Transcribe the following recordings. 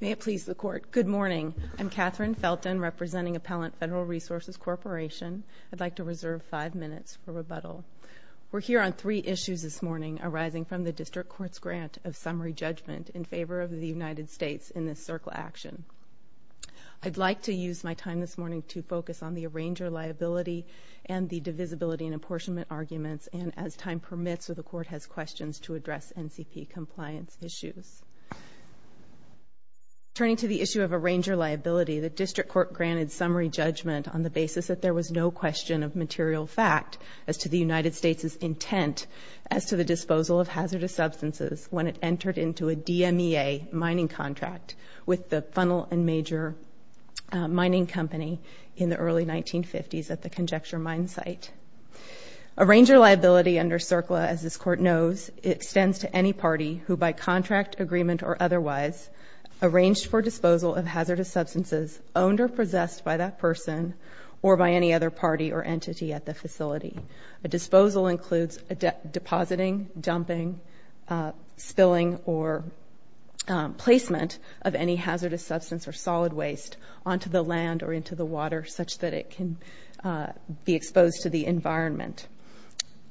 May it please the Court, good morning. I'm Katherine Felton representing Appellant Federal Resources Corporation. I'd like to reserve five minutes for rebuttal. We're here on three issues this morning arising from the District Court's grant of summary judgment in favor of the United States in this circle action. I'd like to use my time this morning to focus on the arranger liability and the divisibility and apportionment arguments and as time permits so the Court has questions to address NCP compliance issues. Turning to the issue of arranger liability, the District Court granted summary judgment on the basis that there was no question of material fact as to the United States' intent as to the disposal of hazardous substances when it entered into a DMEA mining contract with the funnel and major mining company in the early 1950s at the Conjecture Mine site. Arranger liability under CERCLA as this Court knows, extends to any party who by contract, agreement or otherwise arranged for disposal of hazardous substances owned or possessed by that person or by any other party or entity at the facility. A disposal includes depositing, dumping, spilling or placement of any hazardous substance or solid waste onto the land or into the water such that it can be exposed to the environment.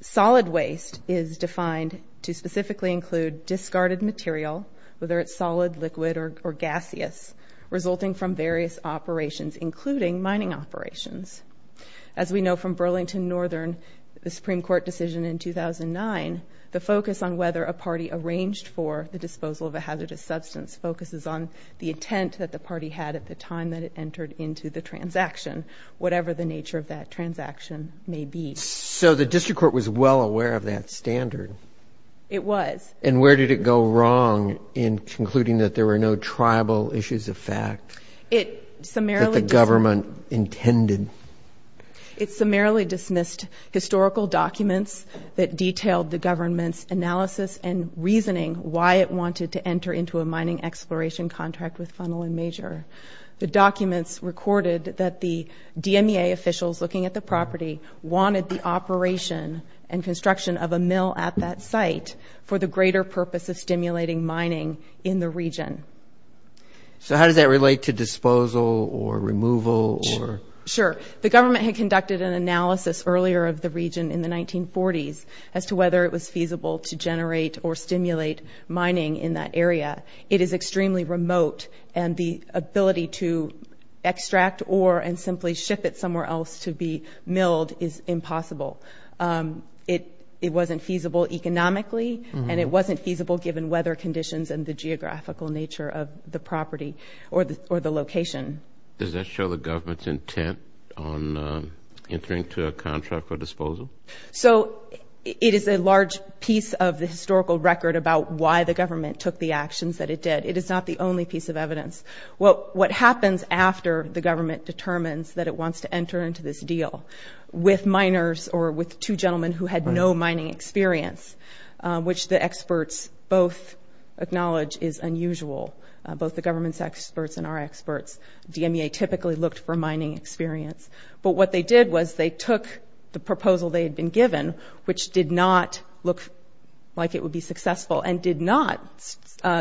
Solid waste is defined to specifically include discarded material, whether it's solid, liquid or gaseous, resulting from various operations including mining operations. As we know from Burlington Northern, the Supreme Court decision in 2009, the focus on whether a party arranged for the disposal of a hazardous substance focuses on the intent that the party had at the time that it entered into the transaction, whatever the nature of that transaction may be. So the District Court was well aware of that standard? It was. And where did it go wrong in concluding that there were no tribal issues of fact that the government intended? It summarily dismissed historical documents that detailed the government's analysis and exploration contract with Funnel and Major. The documents recorded that the DMEA officials looking at the property wanted the operation and construction of a mill at that site for the greater purpose of stimulating mining in the region. So how does that relate to disposal or removal or? Sure. The government had conducted an analysis earlier of the region in the 1940s as to whether it was feasible to generate or stimulate mining in that area. It is extremely remote and the ability to extract ore and simply ship it somewhere else to be milled is impossible. It wasn't feasible economically and it wasn't feasible given weather conditions and the geographical nature of the property or the location. Does that show the government's intent on entering into a contract for disposal? So it is a large piece of the historical record about why the government took the actions that it did. It is not the only piece of evidence. What happens after the government determines that it wants to enter into this deal with miners or with two gentlemen who had no mining experience, which the experts both acknowledge is unusual, both the government's experts and our experts. DMEA typically looked for the ore that they had been given, which did not look like it would be successful and did not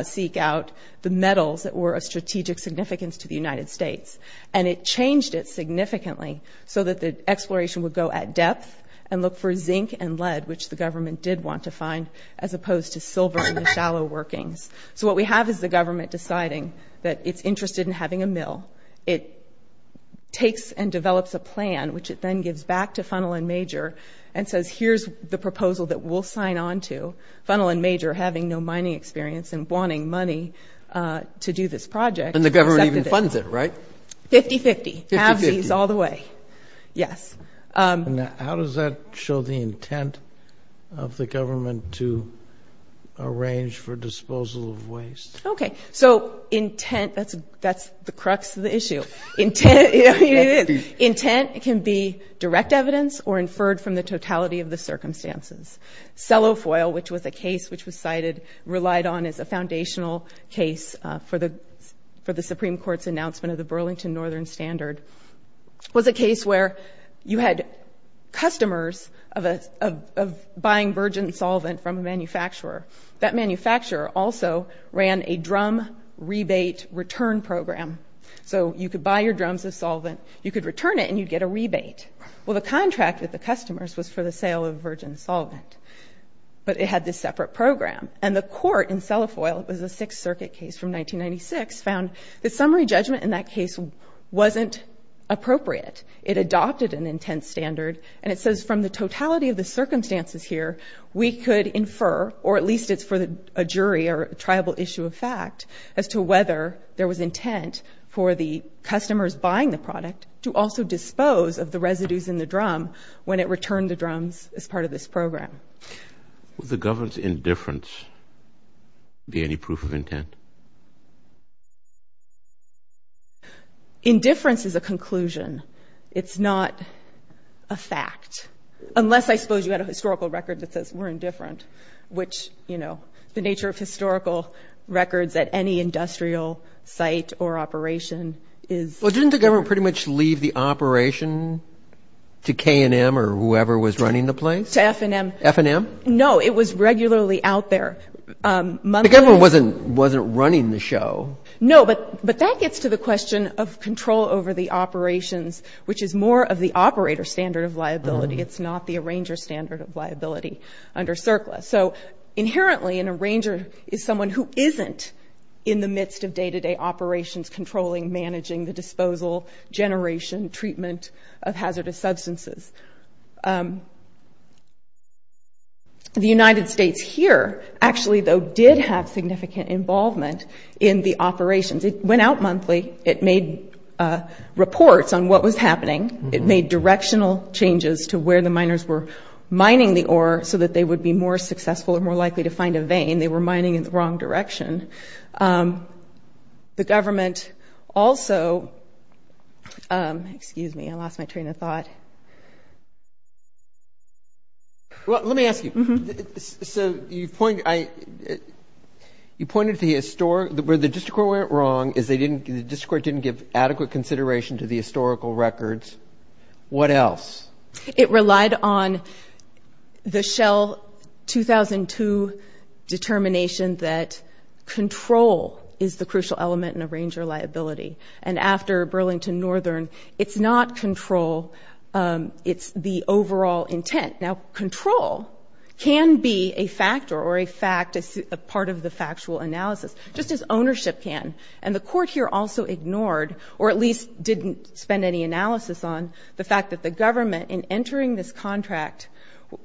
seek out the metals that were of strategic significance to the United States. It changed it significantly so that the exploration would go at depth and look for zinc and lead, which the government did want to find, as opposed to silver and the shallow workings. So what we have is the government deciding that it's interested in having a mill. It takes and develops a plan, which it then gives back to Funnel and Major and says, here's the proposal that we'll sign on to. Funnel and Major, having no mining experience and wanting money to do this project, accepted it. And the government even funds it, right? Fifty-fifty. Fifty-fifty. Avsies all the way. Yes. Okay. So intent, that's the crux of the issue. Intent can be direct evidence or inferred from the totality of the circumstances. Sellofoil, which was a case which was cited, relied on as a foundational case for the Supreme Court's announcement of the Burlington Northern Standard, was a case where you had customers of buying virgin solvent from a manufacturer. That manufacturer also ran a drum rebate return program. So you could buy your drums of solvent, you could return it, and you'd get a rebate. Well, the contract with the customers was for the sale of virgin solvent, but it had this separate program. And the court in Sellofoil, it was a Sixth Circuit case from 1996, found that summary judgment in that case wasn't appropriate. It adopted an intent standard, and it says from the totality of the circumstances here, we could infer, or at least it's for a jury or a tribal issue of fact, as to whether there was intent for the customers buying the product to also dispose of the residues in the drum when it returned the drums as part of this program. Would the government's indifference be any proof of intent? Indifference is a conclusion. It's not a fact. Unless, I suppose, you had a historical record that says we're indifferent, which, you know, the nature of historical records at any industrial site or operation is... Well, didn't the government pretty much leave the operation to K&M or whoever was running the place? To F&M. F&M? No, it was regularly out there. The government wasn't running the show. No, but that gets to the question of control over the operations, which is more of the operator's standard of liability. It's not the arranger's standard of liability under CERCLA. So inherently, an arranger is someone who isn't in the midst of day-to-day operations controlling, managing the disposal, generation, treatment of hazardous substances. The United States here, actually, though, did have significant involvement in the operations. It went out monthly. It made reports on what was happening. It made directional changes to where the miners were mining the ore so that they would be more successful and more likely to find a vein. They were mining in the wrong direction. The government also – excuse me, I lost my train of thought. Well, let me ask you. So you point – you pointed to the – where the district court went wrong is they didn't – the district court didn't give adequate consideration to the historical records. What else? It relied on the Shell 2002 determination that control is the crucial element in arranger liability. And after Burlington Northern, it's not control. It's the overall intent. Now, control can be a factor or a fact, a part of the factual analysis, just as ownership can. And the court here also ignored, or at least didn't spend any analysis on, the fact that the government, in entering this contract,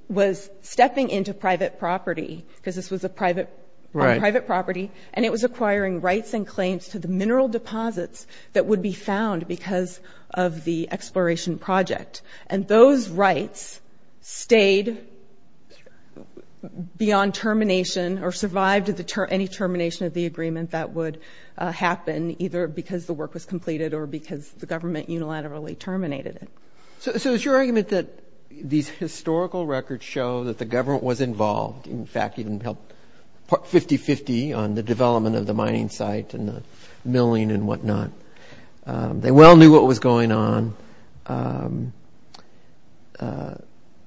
was stepping into private property because this was a private – on private property. Right. And it was acquiring rights and claims to the mineral deposits that would be found because of the exploration project. And those rights stayed beyond termination or survived any termination of the agreement that would happen, either because the work was completed or because the government unilaterally terminated it. So is your argument that these historical records show that the government was involved – in fact, even helped 50-50 on the development of the mining site and the milling and whatnot? They well knew what was going on.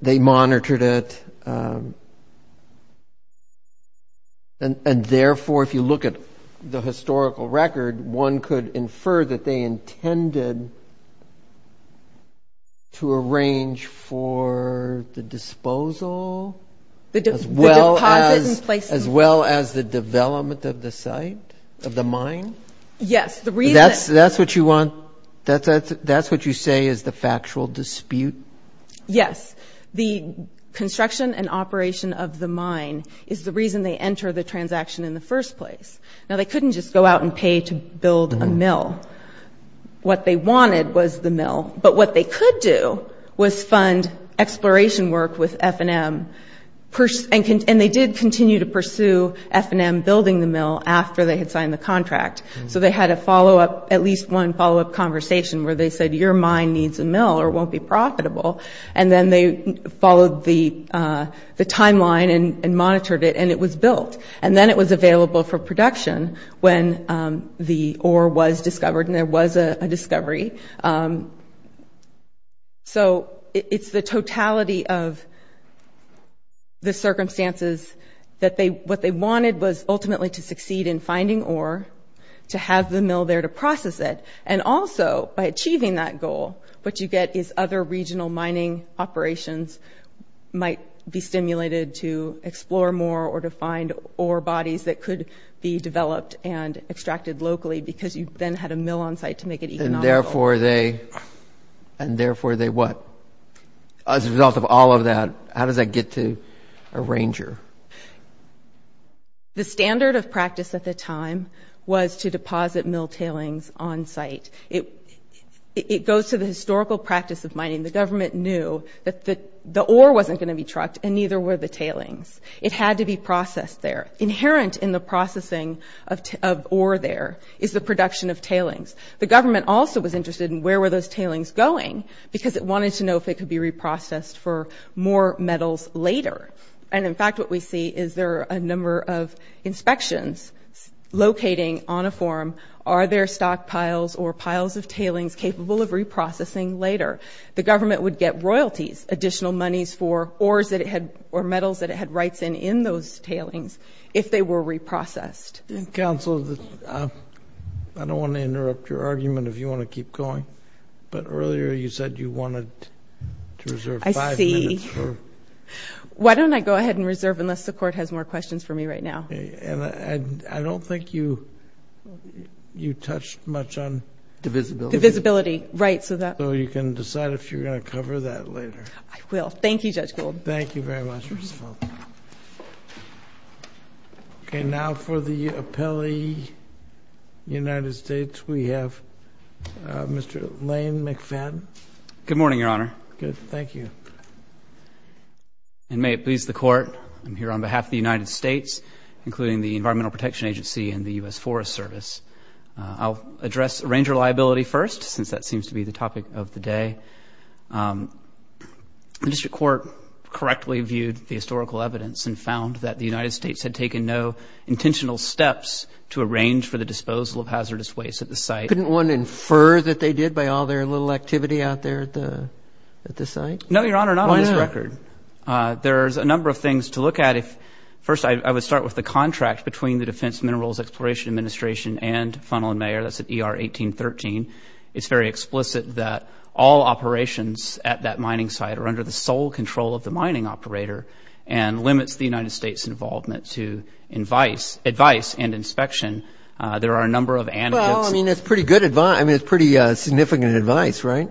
They monitored it. And therefore, if you look at the historical record, one could infer that they intended to arrange for the disposal as well as the development of the site, of the mine? Yes. That's what you want – that's what you say is the factual dispute? Yes. The construction and operation of the mine is the reason they enter the transaction in the first place. Now, they couldn't just go out and pay to build a mill. What they wanted was the mill. But what they could do was fund exploration work with F&M. And they did continue to pursue F&M building the mill after they had signed the contract. So they had a follow-up – at least one follow-up conversation where they said, your mine needs a mill or it won't be profitable. And then they followed the timeline and monitored it. And it was built. And then it was available for production when the ore was discovered. And there was a discovery. So it's the totality of the circumstances that they – what they wanted was ultimately to succeed in finding ore, to have the mill there to process it. And also, by achieving that goal, what you get is other regional mining operations might be stimulated to explore more or to find ore bodies that could be developed and extracted locally because you then had a mill on site to make it economical. And therefore they – and therefore they what? As a result of all of that, how does that get to a ranger? The standard of practice at the time was to deposit mill tailings on site. It goes to the historical practice of mining. The government knew that the ore wasn't going to be trucked, and neither were the tailings. It had to be processed there. Inherent in the processing of ore there is the production of tailings. The government also was interested in where were those tailings going because it wanted to know if it could be reprocessed for more metals later. And, in fact, what we see is there are a number of inspections locating on a form are there stockpiles or piles of tailings capable of reprocessing later. The government would get royalties, additional monies for ores that it had – or metals that it had rights in in those tailings if they were reprocessed. Council, I don't want to interrupt your argument if you want to keep going, but earlier you said you wanted to reserve five minutes for – Why don't I go ahead and reserve unless the Court has more questions for me right now? And I don't think you touched much on – Divisibility. Divisibility, right, so that – So you can decide if you're going to cover that later. I will. Thank you, Judge Gould. Thank you very much, Ms. Fulton. Okay, now for the appellee, United States, we have Mr. Lane McFadden. Good morning, Your Honor. Good, thank you. And may it please the Court, I'm here on behalf of the United States, including the Environmental Protection Agency and the U.S. Forest Service. I'll address ranger liability first since that seems to be the topic of the day. The District Court correctly viewed the historical evidence and found that the United States had taken no intentional steps to arrange for the disposal of hazardous waste at the site. Couldn't one infer that they did by all their little activity out there at the site? No, Your Honor, not on this record. Why not? There's a number of things to look at. First, I would start with the contract between the Defense Minerals Exploration Administration and Funnel and Mayer. That's at ER 1813. It's very explicit that all operations at that mining site are under the sole control of the mining operator and limits the United States' involvement to advice and inspection. There are a number of anecdotes. Well, I mean, that's pretty good advice. I mean, it's pretty significant advice, right?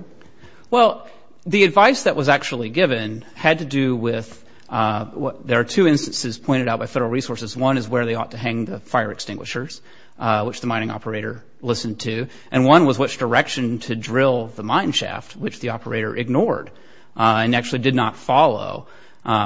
Well, the advice that was actually given had to do with there are two instances pointed out by federal resources. One is where they ought to hang the fire extinguishers, which the mining operator listened to. And one was which direction to drill the mine shaft, which the operator ignored and actually did not follow,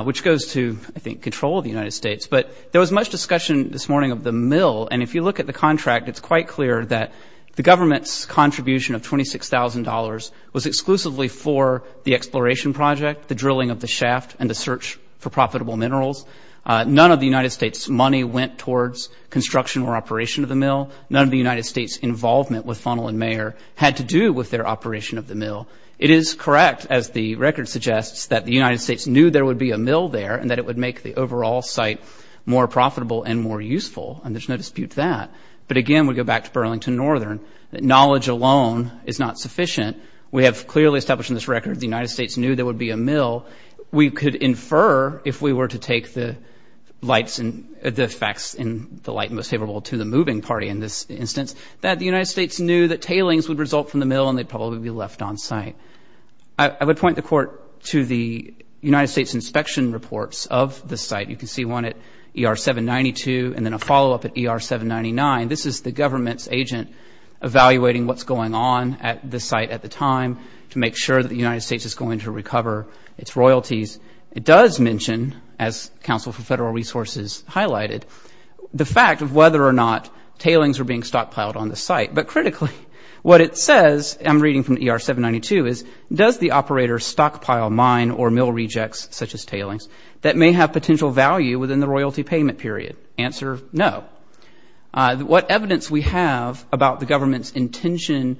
which goes to, I think, control of the United States. But there was much discussion this morning of the mill. And if you look at the contract, it's quite clear that the government's contribution of $26,000 was exclusively for the exploration project, the drilling of the shaft, and the search for profitable minerals. None of the United States' money went towards construction or operation of the mill. None of the United States' involvement with Funnel and Mayer had to do with their operation of the mill. It is correct, as the record suggests, that the United States knew there would be a mill there and that it would make the overall site more profitable and more useful. And there's no dispute to that. But again, we go back to Burlington Northern, that knowledge alone is not sufficient. We have clearly established in this record the United States knew there would be a mill. We could infer, if we were to take the facts in the light most favorable to the moving party, in this instance, that the United States knew that tailings would result from the mill and they'd probably be left on site. I would point the Court to the United States inspection reports of the site. You can see one at ER-792 and then a follow-up at ER-799. This is the government's agent evaluating what's going on at the site at the time to make sure that the United States is going to recover its royalties. It does mention, as Council for Federal Resources highlighted, the fact of whether or not tailings were being stockpiled on the site. But critically, what it says, I'm reading from ER-792, is, does the operator stockpile mine or mill rejects, such as tailings, that may have potential value within the royalty payment period? Answer, no. What evidence we have about the government's intention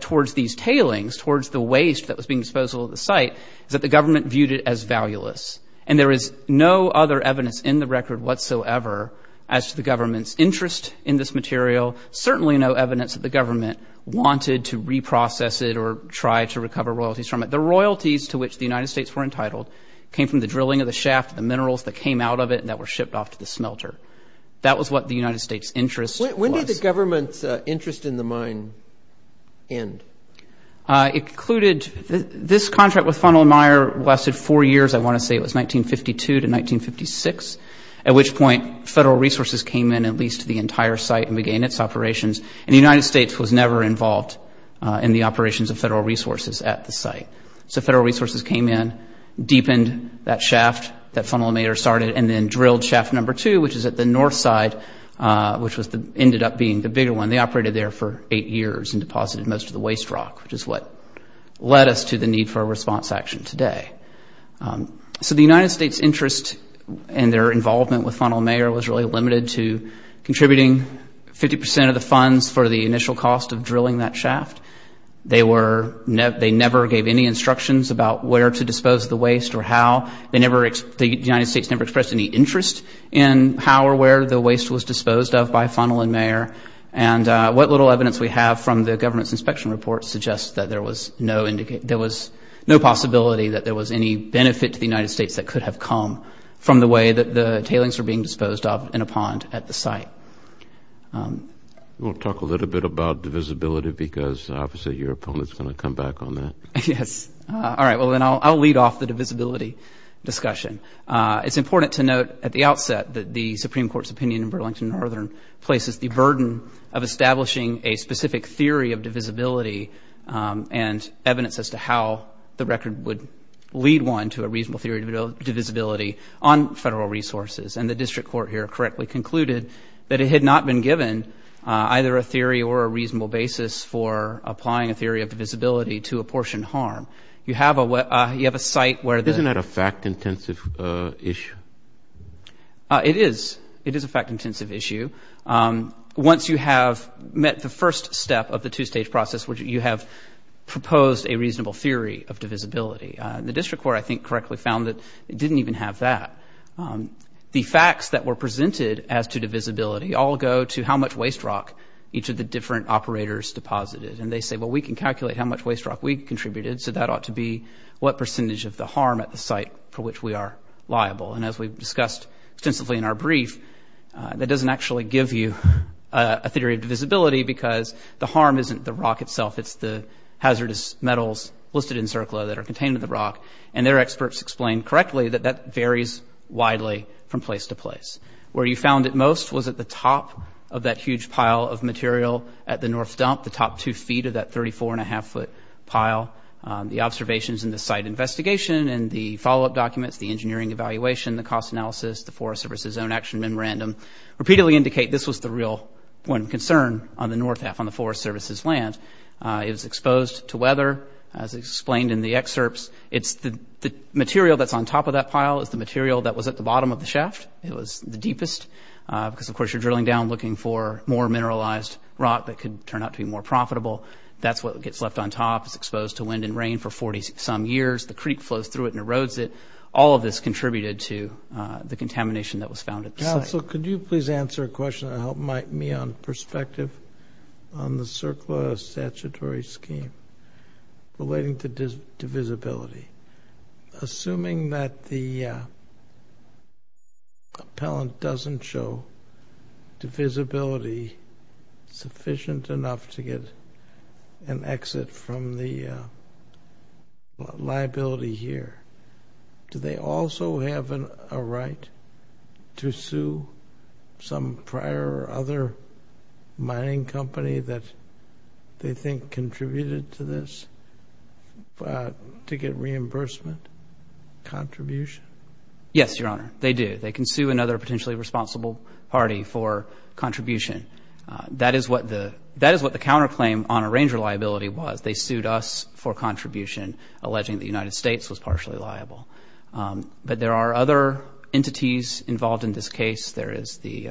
towards these tailings, towards the waste that was being disposed of at the site, is that the government viewed it as valueless. And there is no other evidence in the record whatsoever as to the government's interest in this material, certainly no evidence that the government wanted to reprocess it or try to recover royalties from it. The royalties to which the United States were entitled came from the drilling of the shaft, the minerals that came out of it and that were shipped off to the smelter. That was what the United States' interest was. When did the government's interest in the mine end? It concluded, this contract with Funnel and Meyer lasted four years, I want to say it was 1952 to 1956, at which point, Federal Resources came in and leased the entire site and began its operations. And the United States was never involved in the operations of Federal Resources at the site. So Federal Resources came in, deepened that shaft that Funnel and Meyer started and then drilled shaft number two, which is at the north side, which ended up being the bigger one. They operated there for eight years and deposited most of the waste rock, which is what led us to the need for a response action today. So the United States' interest and their involvement with Funnel and Meyer was really limited to contributing 50% of the funds for the initial cost of drilling that shaft. They never gave any instructions about where to dispose of the waste or how. The United States never expressed any interest in how or where the waste was disposed of by Funnel and Meyer. And what little evidence we have from the government's inspection report suggests that there was no possibility that there was any benefit to the United States that could have come from the way that the tailings were being disposed of in a pond at the site. We'll talk a little bit about divisibility because obviously your opponent is going to come back on that. Yes. All right. Well, then I'll lead off the divisibility discussion. It's important to note at the outset that the Supreme Court's opinion in Burlington and Northern places the burden of establishing a specific theory of divisibility and evidence as to how the record would lead one to a reasonable theory of divisibility on federal resources. And the district court here correctly concluded that it had not been given either a theory or a reasonable basis for applying a theory of divisibility to apportioned harm. You have a site where the... Isn't that a fact-intensive issue? It is. It is a fact-intensive issue. Once you have met the first step of the two-stage process where you have proposed a reasonable theory of divisibility, the district court I think correctly found that it didn't even have that. The facts that were presented as to divisibility all go to how much waste rock each of the different operators deposited. And they say, well, we can calculate how much waste rock we contributed, so that ought to be what percentage of the harm at the site for which we are liable. And as we've discussed extensively in our brief, that doesn't actually give you a theory of divisibility because the harm isn't the rock itself, it's the hazardous metals listed in CERCLA that are contained in the rock. And their experts explained correctly that that varies widely from place to place. Where you found it most was at the top of that huge pile of material at the north dump, the top two feet of that 34-and-a-half-foot pile. The observations in the site investigation and the follow-up documents, the engineering evaluation, the cost analysis, the Forest Service's own action memorandum repeatedly indicate this was the real one concern on the north half on the Forest Service's land. It was exposed to weather, as explained in the excerpts. It's the material that's on top of that pile is the material that was at the bottom of the shaft. It was the deepest because, of course, you're drilling down looking for more mineralized rock that could turn out to be more profitable. That's what gets left on top. It's exposed to wind and rain for 40-some years. The creek flows through it and erodes it. All of this contributed to the contamination that was found at the site. So could you please answer a question to help me on perspective on the circular statutory scheme relating to divisibility? Assuming that the appellant doesn't show divisibility sufficient enough to get an exit from the liability here, do they also have a right to sue some prior other mining company that they think contributed to this to get reimbursement contribution? Yes, Your Honor. They do. They can sue another potentially responsible party for contribution. That is what the counterclaim on arranger liability was. They sued us for contribution alleging the United States was partially liable. But there are other entities involved in this case. There is the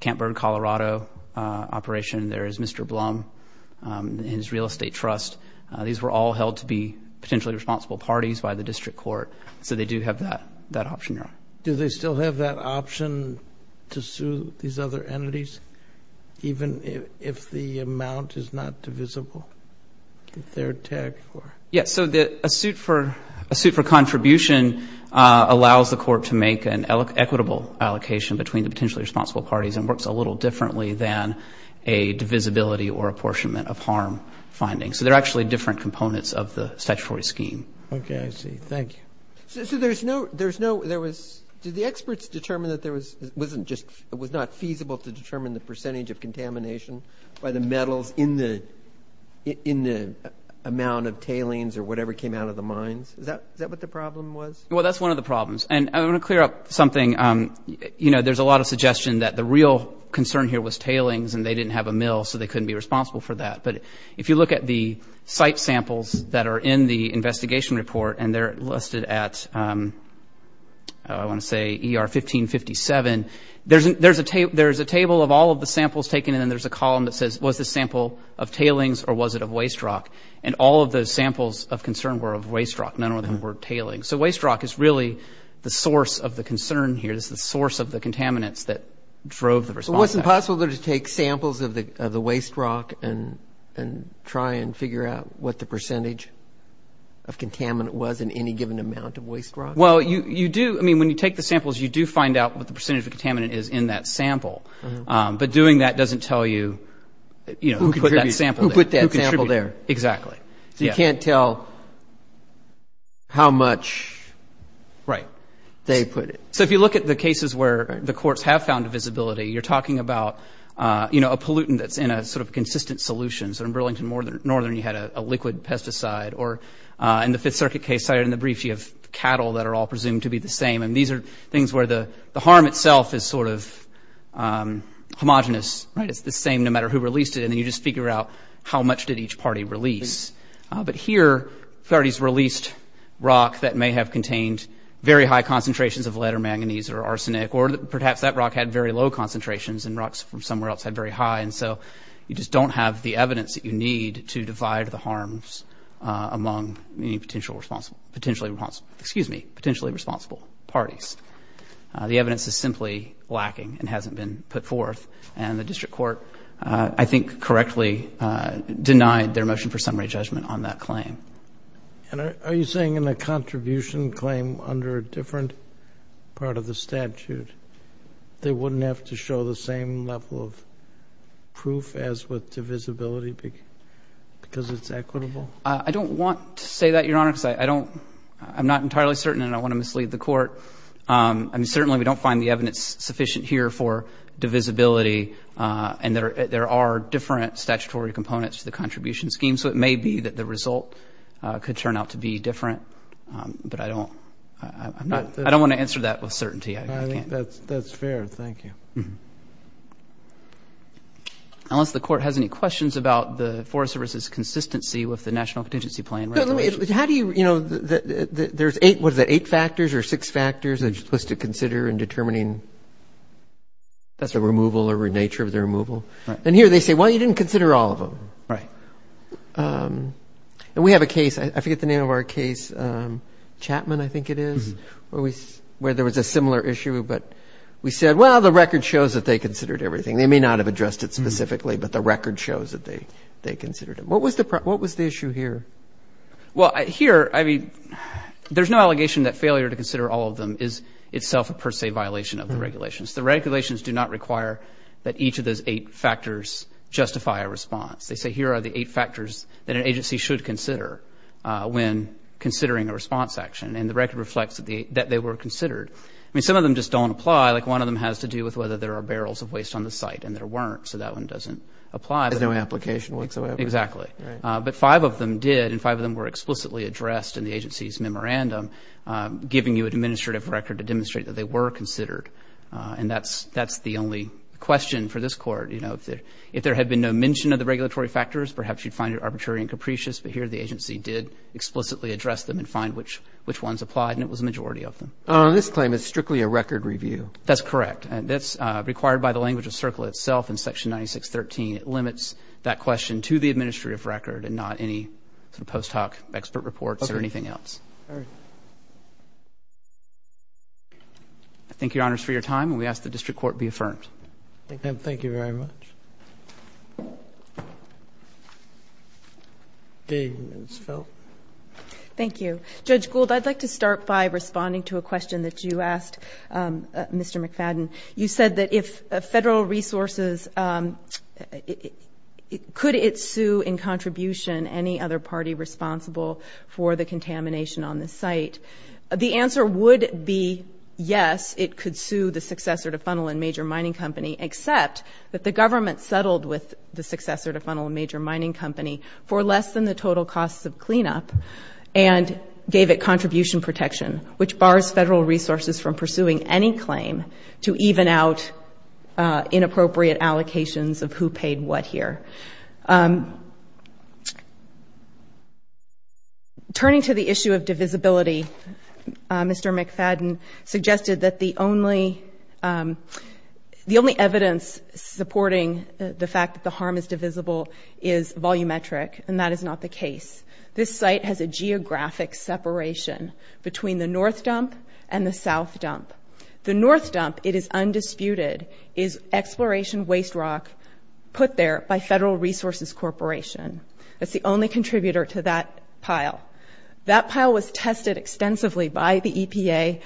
Campburn, Colorado operation. There is Mr. Blum and his real estate trust. These were all held to be potentially responsible parties by the district court. They do have that option, Your Honor. Do they still have that option to sue these other entities even if the amount is not divisible? A suit for contribution allows the court to make an equitable allocation between the potentially responsible parties and works differently than a portion of harm finding. There are different components of the statutory scheme. Do the experts determine it was not feasible to determine the percentage of contamination by the metals in the amount of tailings or whatever came out of the mines? That's one of the problems. I want to clear up something. There's a lot of suggestion that the real concern was tailings and they didn't have a mill. If you look at the site samples listed at ER 1557, there's a table of samples taken and a column that says was it tailings or waste rock? The samples of concern were rock. Waste rock is the source of the contaminants. Was it possible to take samples of the waste rock and figure out the percentage of the in the waste rock? If you look at the cases where the courts have found visibility, you're talking about a pollutant that's in a consistent solution. In the Fifth Circuit case you have cattle presumed to be the same. The harm itself is homogenous. You figure out how much did each party release. Here they released rock that may have contained very high percentage the pollutant that was in the waste rock. The evidence is simply lacking and hasn't been put forth. The district court correctly denied their motion for summary judgment on that claim. Are you saying in a contribution claim under a different part of the statute they wouldn't have to show the same level of proof as with divisibility because it's equitable? I don't want to say that. I don't want to mislead the court. We don't find sufficient evidence for divisibility and there are different statutory components to the contribution scheme. I don't want to answer that certainty. I think that's fair. Thank you. Unless the court has questions about the consistency with the national statistics. But a couple of things that were not mentioned in the case. I don't want to say that the court wouldn't have to show the same level of clarity. There's no allegation that failure to consider all of them is itself a per se violation of the regulations. The regulations do not require that each of those eight factors justify a response. They say here are the eight factors that an agency should consider when considering a response action. And the record reflects that they were considered. Some of them don't apply. One has to do with whether there are barrels of waste site. But five of them were explicitly addressed in the agency's memorandum giving you an administrative record to demonstrate they were in with the regulations. It limits that question to the administrative record and not any post hoc expert reports or anything else. Thank you for your time. We ask the district court to be affirmed. Thank you very much. Judge Gould, I would like to start by responding to a question you asked Mr. McFadden. You said if federal resources could sue in contribution any other party responsible for the contamination on the site, the answer would be yes. It could sue except that the government settled with the mining company for less than the total cost of cleanup and gave it contribution protection which bars federal resources from pursuing any claim to even out inappropriate allocations of who paid what here. Turning to the issue of divisibility, Mr. McFadden suggested that the only evidence supporting the fact that the harm is divisible is volumetric and that is not the case. This site has a geographic separation between the north dump and the south dump. The north dump is undisputed is exploration waste rock put there by the government. The government did not have a chance to respond to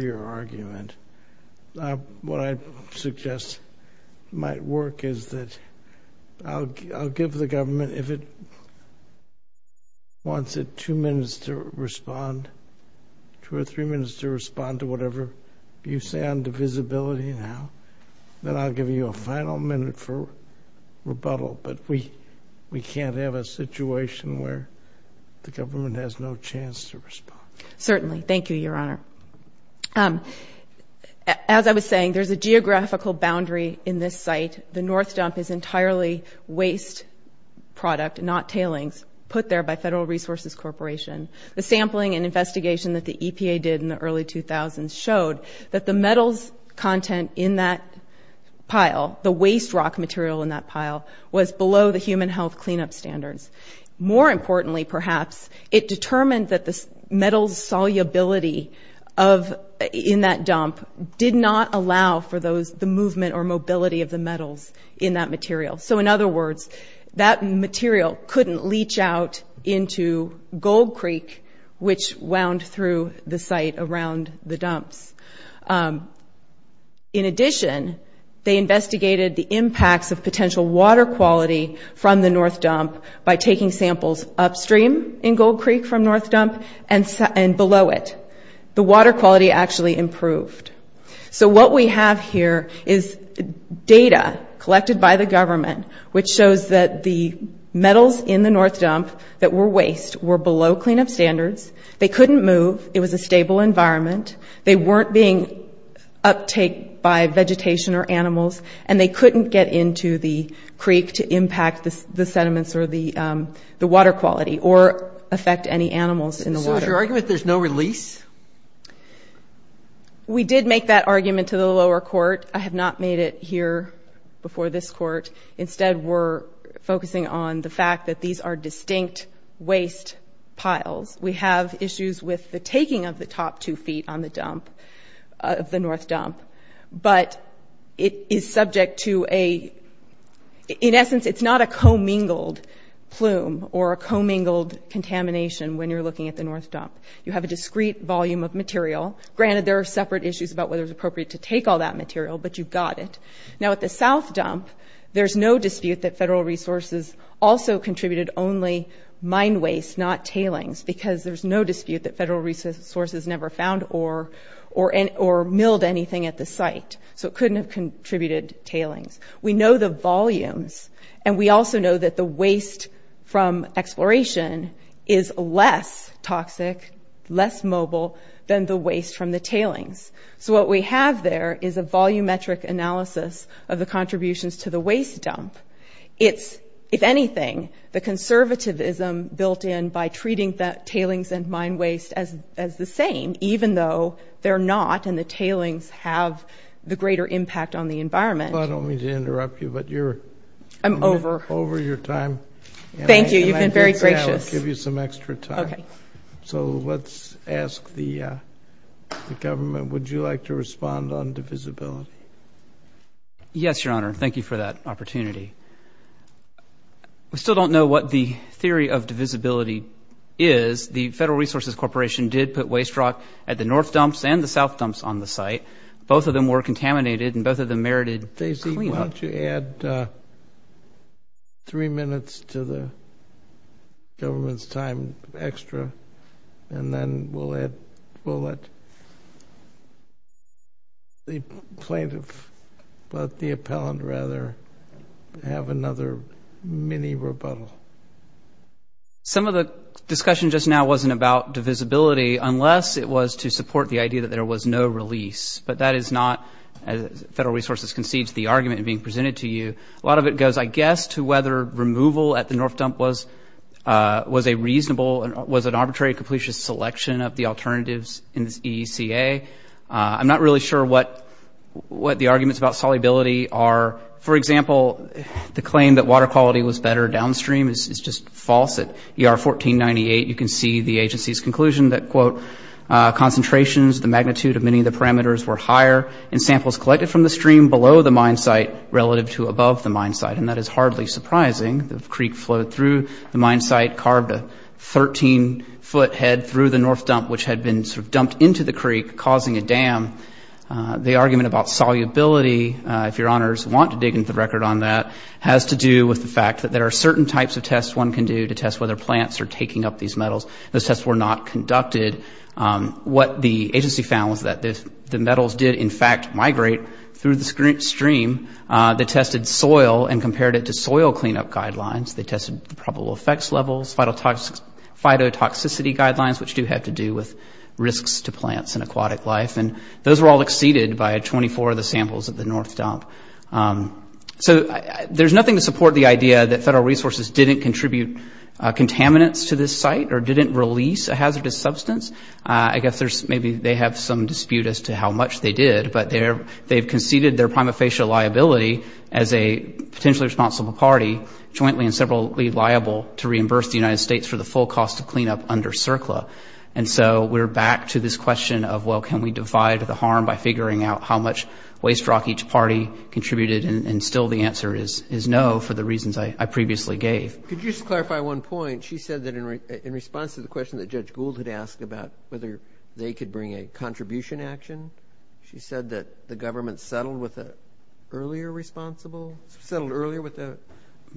your argument. What I suggest might work is that I will give the government, if it wants it two minutes to respond to whatever you say on divisibility now, then I will give you a final minute for rebuttal, but we can't have a situation where the government has no chance to respond. Certainly. Thank you, your honor. As I was saying, there's a geographical boundary in this site. The north dump is entirely waste product, not tailings, put there by the federal resources corporation. The sampling and investigation showed that the metals content in that pile, the waste rock material in that pile was below the standards. More importantly, perhaps, it determined that the metals solubility in that dump did not allow for the movement or mobility of the metals in that material. So in other words, that material couldn't leach out into gold creek which wound through the site around the dumps. In addition, they investigated the impacts of potential water quality from the north dump by taking samples upstream in gold creek from north dump and below it. The water quality actually improved. So what we have here is data collected by the government which shows that the metals in the north dump that were waste were below clean up standards. They couldn't move. It was a stable environment. They weren't being uptake by vegetation or animals and they couldn't get into the creek to impact the sediments or the water quality or affect any animals in the water. So is your argument that there's no release? We did make that argument to the lower court. I have not made it here before this court. Instead, we're focusing on the fact that these are distinct waste piles. We have issues with the taking of the top two feet on the dump of the north dump but it is subject to a in essence it's not a co-mingled plume or a co-mingled contamination when you're looking at the north dump. You have a discrete volume of material. Granted, there are separate issues about whether it's appropriate to take all that material but you've got it. Now at the south dump, there's no dispute that the waste from exploration is less toxic, less mobile than the waste from the tailings. So what we have there is a volumetric analysis of the contributions to the waste dump. It's, if anything, the conservatism built in by treating the tailings and mine waste as the same, even though they're not and the tailings have the greater impact on the environment. I don't mean to interrupt you but you're over your time. Thank you, you've been very gracious. I'll give you some extra time. So let's ask the government, would you like to respond on divisibility? Yes, I would respond. The Federal Resources Corporation did put waste rock at the north dumps and the south dumps on the site. Both of them were contaminated and both of them merited clean up. Daisy, why don't you add three minutes to the government's time I'll give you some extra and then we'll let the plaintiff, the appellant rather, have another mini rebuttal. Some of the discussion just now wasn't about divisibility unless it was to support the idea that there was no release. But that is not, as Federal Resources concedes, the argument being presented to you. A lot of it goes, I guess, to whether removal at the north dump was a reasonable selection of the alternatives in the EECA. I'm not really sure what the arguments about solubility are. For example, the claim that water quality was better downstream is just false. At ER 1498 you can see the agency's conclusion that concentrations, the magnitude of many of the parameters were higher and samples collected from the stream below the mine site relative to above the mine site The other argument that the agency found was that the metals did migrate through the stream. They tested soil and compared it to soil cleanup guidelines. They tested the effects levels, phytotoxicity guidelines, which do have to do with risks to plants and aquatic life. Those were all exceeded by 24 of the samples of the North Dump. There's nothing to support the idea that federal resources didn't release a hazardous substance. Maybe they have some dispute as to how much waste rock each party contributed. The answer is no. For the reasons I previously gave. In response to the question that Judge Gould asked about whether they could bring a contribution action, she said that the government settled earlier with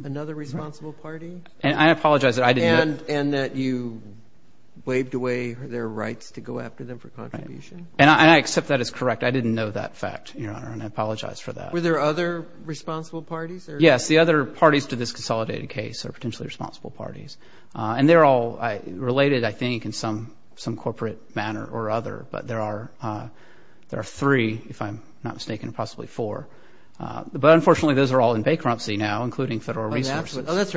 another responsible party, and that you waived away their rights to go after them for contribution. I accept that as correct. I didn't know that fact. I apologize for that. The other parties in this case are potentially responsible parties. They are all related in some corporate manner or other. There are three, if I'm not mistaken, possibly four. Unfortunately, those are all in bankruptcy now, including federal resources. Those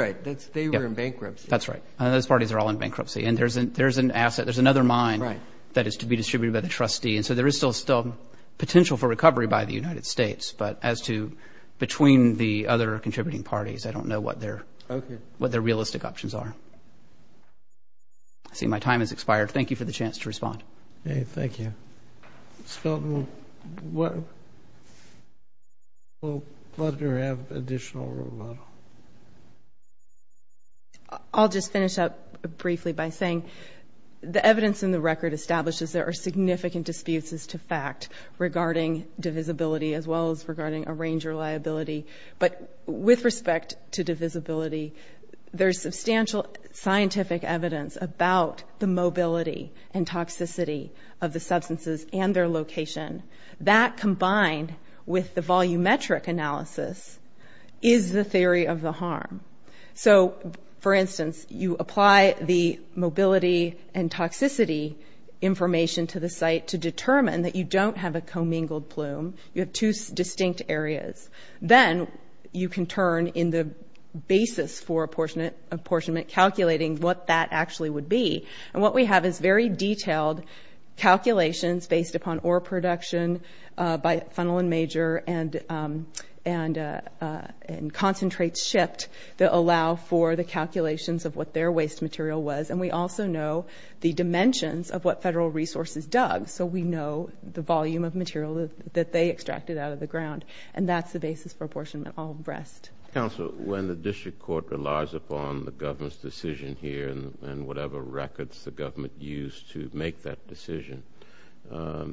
parties are all in bankruptcy. There is another mine to be distributed by the trustee. There is still potential for recovery by the United States. Between the other contributing parties, I don't know what their realistic options are. I see my time has expired. Thank you chance to respond. Thank you. Ms. Felton, will Plutner have additional remodel? I'll just finish up briefly by saying the evidence in the record establishes there are significant disputes as to fact regarding divisibility and range reliability. With respect to divisibility, there is substantial scientific evidence about the mobility and toxicity of the substances and their location. That combined with the volumetric analysis is the theory of the most evidence in the record. We have very detailed calculations based upon ore production by funnel and major and concentrate shift that allow for the calculations of what their waste material was. We also know the dimensions of what federal resources dug, so we know the volume of material they extracted out of the ground. That's the basis for apportionment. When the district court relies upon the government's decision here, was that the administrative record is devoid of material the government relies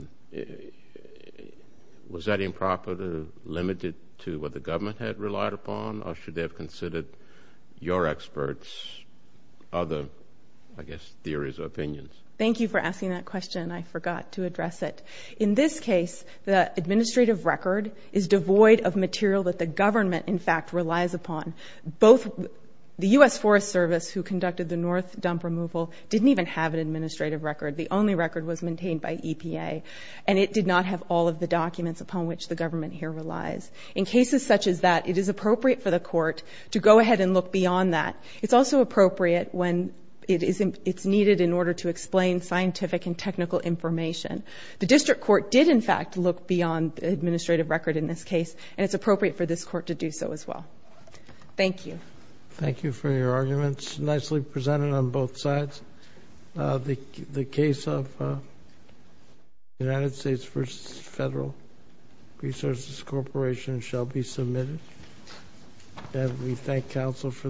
upon. Both the U.S. Forest Service didn't even have an administrative record. The only record was maintained by EPA. It is appropriate for the court to look beyond that. It's also appropriate when it's needed to explain scientific and technical information. The district court did look beyond the administrative record and it's appropriate for the court to do so as well. Thank you. Thank you for your arguments. Nicely presented on both sides. The case of United States versus Federal Resources Corporation shall be submitted. And we thank counsel for their